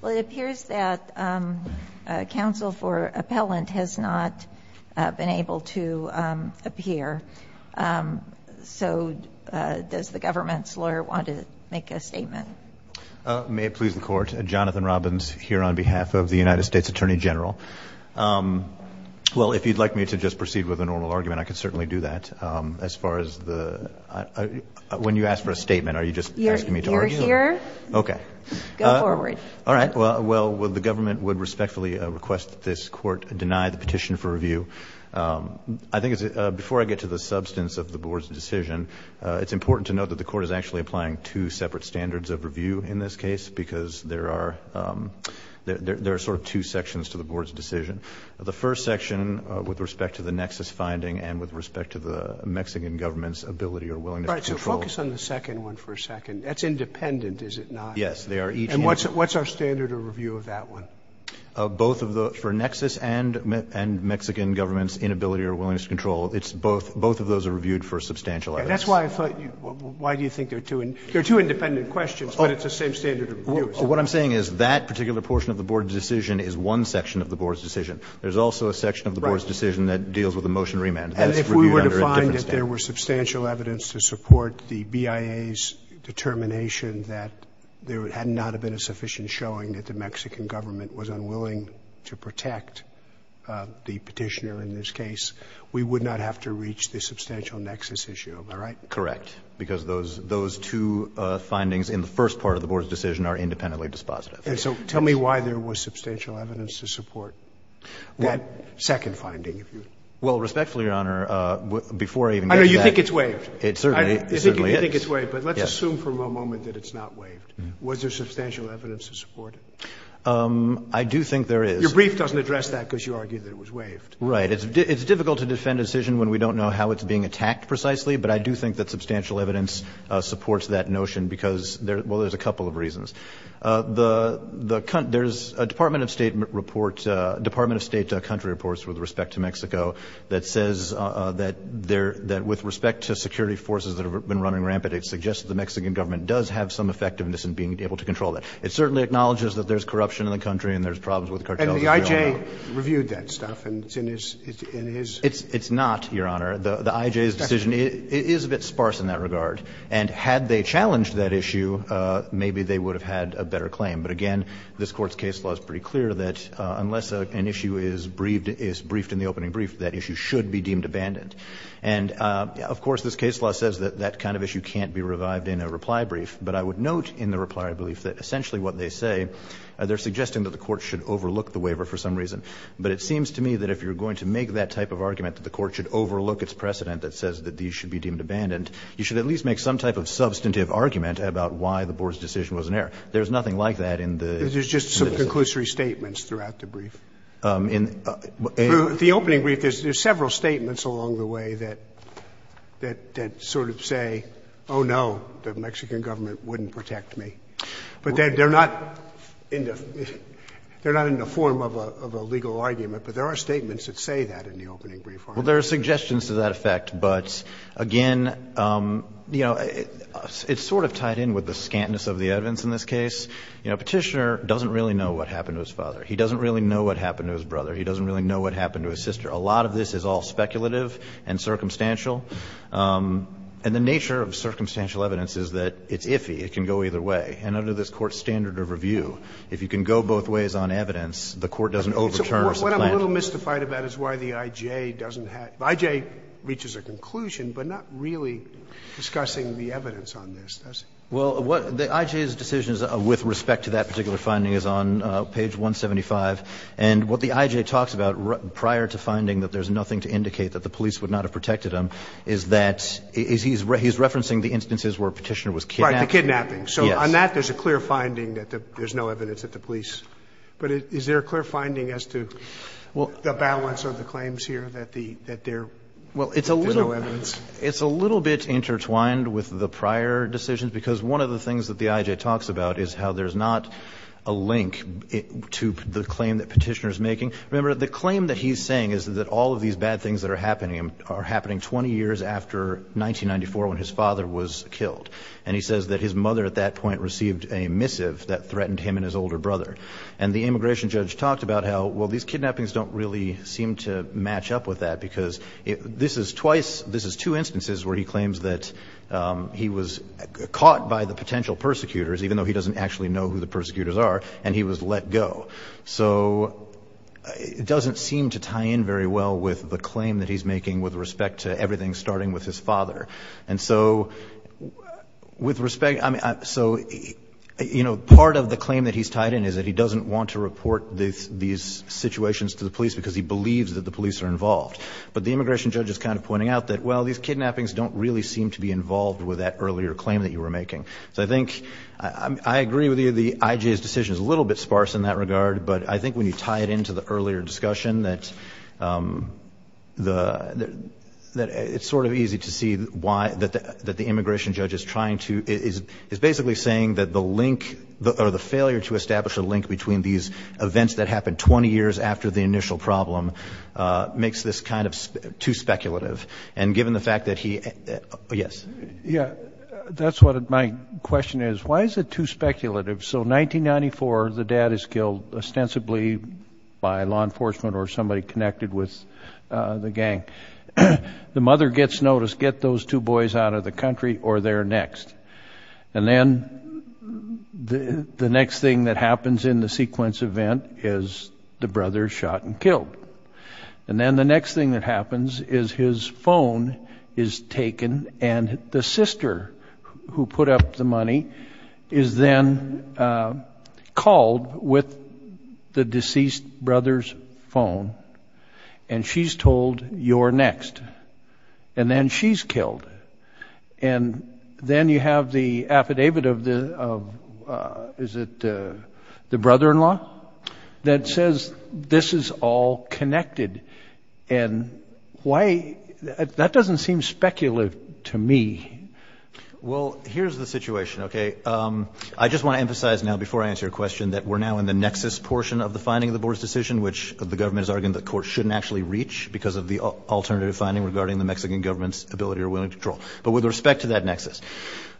Well, it appears that counsel for appellant has not been able to appear, so does the government's lawyer want to make a statement? May it please the court, Jonathan Robbins here on behalf of the United States Attorney General. Well, if you'd like me to just proceed with a normal argument, I can certainly do that. As far as the – when you ask for a statement, are you just asking me to argue? You're here. Okay. Go forward. All right. Well, the government would respectfully request that this court deny the petition for review. I think it's – before I get to the substance of the board's decision, it's important to note that the court is actually applying two separate standards of review in this case because there are sort of two sections to the board's decision. The first section with respect to the nexus finding and with respect to the Mexican government's ability or willingness to control. All right. So focus on the second one for a second. That's independent, is it not? Yes, they are each independent. And what's our standard of review of that one? Both of the – for nexus and Mexican government's inability or willingness to control, it's both – both of those are reviewed for substantial evidence. That's why I thought – why do you think they're two – they're two independent questions, but it's the same standard of review. What I'm saying is that particular portion of the board's decision is one section of the board's decision. There's also a section of the board's decision that deals with a motion to remand. And if we were to find that there were substantial evidence to support the BIA's determination that there had not been a sufficient showing that the Mexican government was unwilling to protect the petitioner in this case, we would not have to reach the substantial nexus issue. Am I right? Correct. Because those two findings in the first part of the board's decision are independently dispositive. And so tell me why there was substantial evidence to support that second finding, if you would. Well, respectfully, Your Honor, before I even get to that. I know. You think it's waived. It certainly is. You think it's waived, but let's assume for a moment that it's not waived. Was there substantial evidence to support it? I do think there is. Your brief doesn't address that because you argue that it was waived. Right. It's difficult to defend a decision when we don't know how it's being attacked precisely, but I do think that substantial evidence supports that notion because – well, there's a couple of reasons. The – there's a Department of State report – Department of State country reports with respect to Mexico that says that there – that with respect to security forces that have been running rampant, it suggests that the Mexican government does have some effectiveness in being able to control that. It certainly acknowledges that there's corruption in the country and there's problems with cartels. And the I.J. reviewed that stuff, and it's in his – in his – It's not, Your Honor. The I.J.'s decision is a bit sparse in that regard. And had they challenged that issue, maybe they would have had a better claim. But again, this Court's case law is pretty clear that unless an issue is briefed in the opening brief, that issue should be deemed abandoned. And, of course, this case law says that that kind of issue can't be revived in a reply brief, but I would note in the reply brief that essentially what they say, they're suggesting that the Court should overlook the waiver for some reason. But it seems to me that if you're going to make that type of argument, that the Court should overlook its precedent that says that these should be deemed abandoned, you should at least make some type of substantive argument about why the Board's decision was an error. There's nothing like that in the – There's just some conclusory statements throughout the brief. In the opening brief, there's several statements along the way that sort of say, oh, no, the Mexican government wouldn't protect me. But they're not in the form of a legal argument, but there are statements that say that in the opening brief. Well, there are suggestions to that effect, but again, you know, it's sort of tied in with the scantness of the evidence in this case. You know, Petitioner doesn't really know what happened to his father. He doesn't really know what happened to his brother. He doesn't really know what happened to his sister. A lot of this is all speculative and circumstantial. And the nature of circumstantial evidence is that it's iffy. It can go either way. And under this Court's standard of review, if you can go both ways on evidence, the Court doesn't overturn or supplant it. So what I'm a little mystified about is why the IJ doesn't have – the IJ reaches a conclusion, but not really discussing the evidence on this, does it? Well, the IJ's decision with respect to that particular finding is on page 175. And what the IJ talks about prior to finding that there's nothing to indicate that the police would not have protected him is that he's referencing the instances where Petitioner was kidnapped. Right, the kidnapping. Yes. So on that, there's a clear finding that there's no evidence at the police. But is there a clear finding as to the balance of the claims here that there is no evidence? It's a little bit intertwined with the prior decisions, because one of the things that the IJ talks about is how there's not a link to the claim that Petitioner is making. Remember, the claim that he's saying is that all of these bad things that are happening are happening 20 years after 1994 when his father was killed. And he says that his mother at that point received a missive that threatened him and his older brother. And the immigration judge talked about how, well, these kidnappings don't really seem to match up with that, because this is twice, this is two instances where he claims that he was caught by the potential persecutors, even though he doesn't actually know who the persecutors are, and he was let go. So it doesn't seem to tie in very well with the claim that he's making with respect to everything starting with his father. And so with respect, I mean, so, you know, part of the claim that he's tied in is that he doesn't want to report these situations to the police because he believes that the police are involved. But the immigration judge is kind of pointing out that, well, these kidnappings don't really seem to be involved with that earlier claim that you were making. So I think I agree with you, the IJ's decision is a little bit sparse in that regard, but I think when you tie it into the earlier discussion that it's sort of easy to see why that the immigration judge is trying to, is basically saying that the link, or the failure to establish a link between these events that happened 20 years after the initial problem makes this kind of too speculative. And given the fact that he, yes. Yeah, that's what my question is. Why is it too speculative? So 1994, the dad is killed ostensibly by law enforcement or somebody connected with the gang. The mother gets notice, get those two boys out of the country or they're next. And then the next thing that happens in the sequence event is the brother shot and killed. And then the next thing that happens is his phone is taken and the sister who put up the money is then called with the deceased brother's phone and she's told, you're next. And then she's killed. And then you have the affidavit of the, is it the brother-in-law? That says this is all connected. And why, that doesn't seem speculative to me. Well, here's the situation, okay. I just want to emphasize now before I answer your question that we're now in the nexus portion of the finding of the board's decision, which the government has argued the court shouldn't actually reach because of the alternative finding regarding the Mexican government's ability or willingness to control. But with respect to that nexus,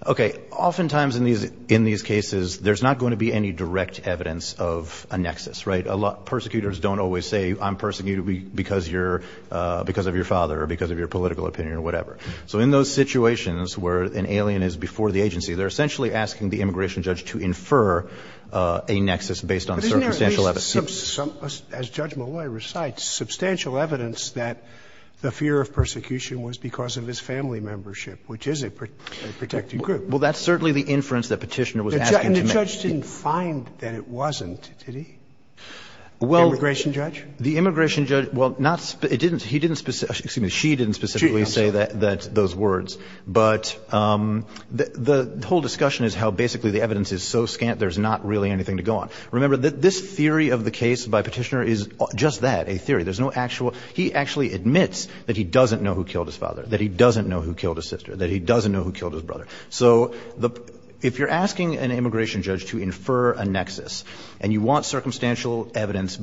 okay, oftentimes in these cases there's not going to be any direct evidence of a nexus, right? Persecutors don't always say I'm persecuted because of your father or because of your political opinion or whatever. So in those situations where an alien is before the agency, they're essentially asking the immigration judge to infer a nexus based on circumstantial evidence. As Judge Malloy recites, substantial evidence that the fear of persecution was because of his family membership, which is a protected group. Well, that's certainly the inference that Petitioner was asking to make. And the judge didn't find that it wasn't, did he, the immigration judge? Well, the immigration judge, well, it didn't, he didn't, excuse me, she didn't specifically say that, those words. But the whole discussion is how basically the evidence is so scant there's not really anything to go on. Remember, this theory of the case by Petitioner is just that, a theory. There's no actual, he actually admits that he doesn't know who killed his father, that he doesn't know who killed his sister, that he doesn't know who killed his brother. So if you're asking an immigration judge to infer a nexus and you want circumstantial evidence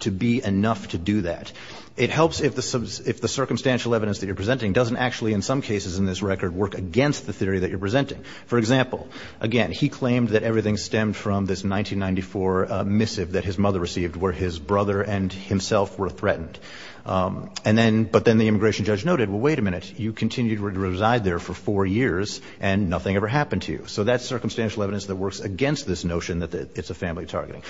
to be enough to do that, it helps if the circumstantial evidence that you're presenting doesn't actually in some cases in this record work against the theory that you're presenting. For example, again, he claimed that everything stemmed from this 1994 missive that his mother received where his brother and himself were threatened. And then, but then the immigration judge noted, well, wait a minute, you continued to reside there for four years and nothing ever happened to you. So that's circumstantial evidence that works against this notion that it's a family targeting.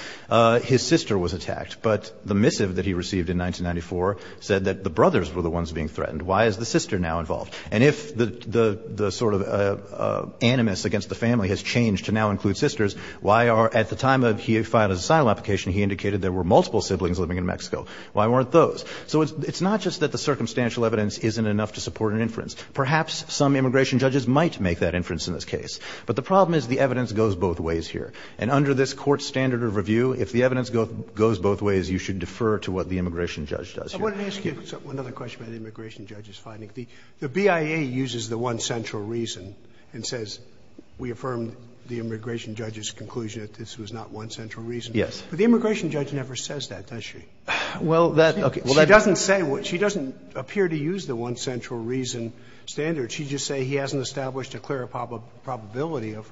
His sister was attacked, but the missive that he received in 1994 said that the brothers were the ones being threatened. Why is the sister now involved? And if the sort of animus against the family has changed to now include sisters, why are, at the time he filed his asylum application, he indicated there were multiple siblings living in Mexico. Why weren't those? So it's not just that the circumstantial evidence isn't enough to support an inference. Perhaps some immigration judges might make that inference in this case. But the problem is the evidence goes both ways here. And under this court standard of review, if the evidence goes both ways, you should defer to what the immigration judge does here. I wanted to ask you another question about the immigration judge's finding. The BIA uses the one central reason and says we affirmed the immigration judge's conclusion that this was not one central reason. Yes. But the immigration judge never says that, does she? Well, that, okay. She doesn't say, she doesn't appear to use the one central reason standard. She'd just say he hasn't established a clear probability of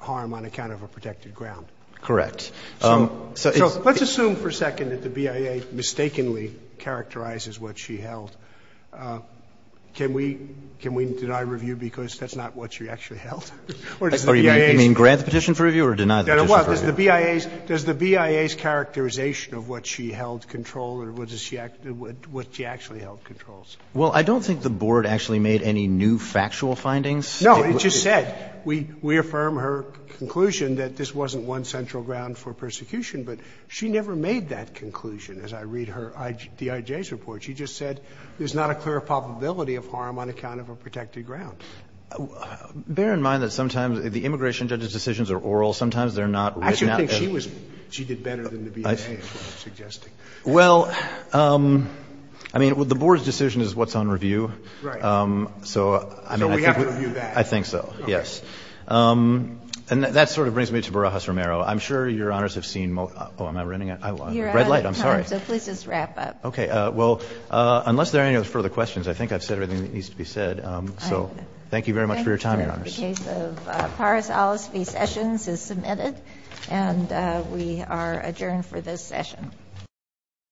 harm on account of a protected ground. Correct. So let's assume for a second that the BIA mistakenly characterizes what she held. Can we deny review because that's not what she actually held? Or does the BIA's? You mean grant the petition for review or deny the petition for review? Well, does the BIA's characterization of what she held control or what she actually held controls? Well, I don't think the Board actually made any new factual findings. No. It just said we affirm her conclusion that this wasn't one central ground for persecution, but she never made that conclusion as I read her DIJ's report. She just said there's not a clear probability of harm on account of a protected ground. Bear in mind that sometimes the immigration judge's decisions are oral. Sometimes they're not written out. I actually think she was, she did better than the BIA was suggesting. Well, I mean, the Board's decision is what's on review. Right. So, I mean, I think. I think so, yes. And that sort of brings me to Barajas-Romero. I'm sure Your Honors have seen most. Oh, am I running out? Red light. I'm sorry. So please just wrap up. Okay. Well, unless there are any further questions, I think I've said everything that needs to be said. So thank you very much for your time, Your Honors. Thank you. The case of Paris-Ollis v. Sessions is submitted. And we are adjourned for this session.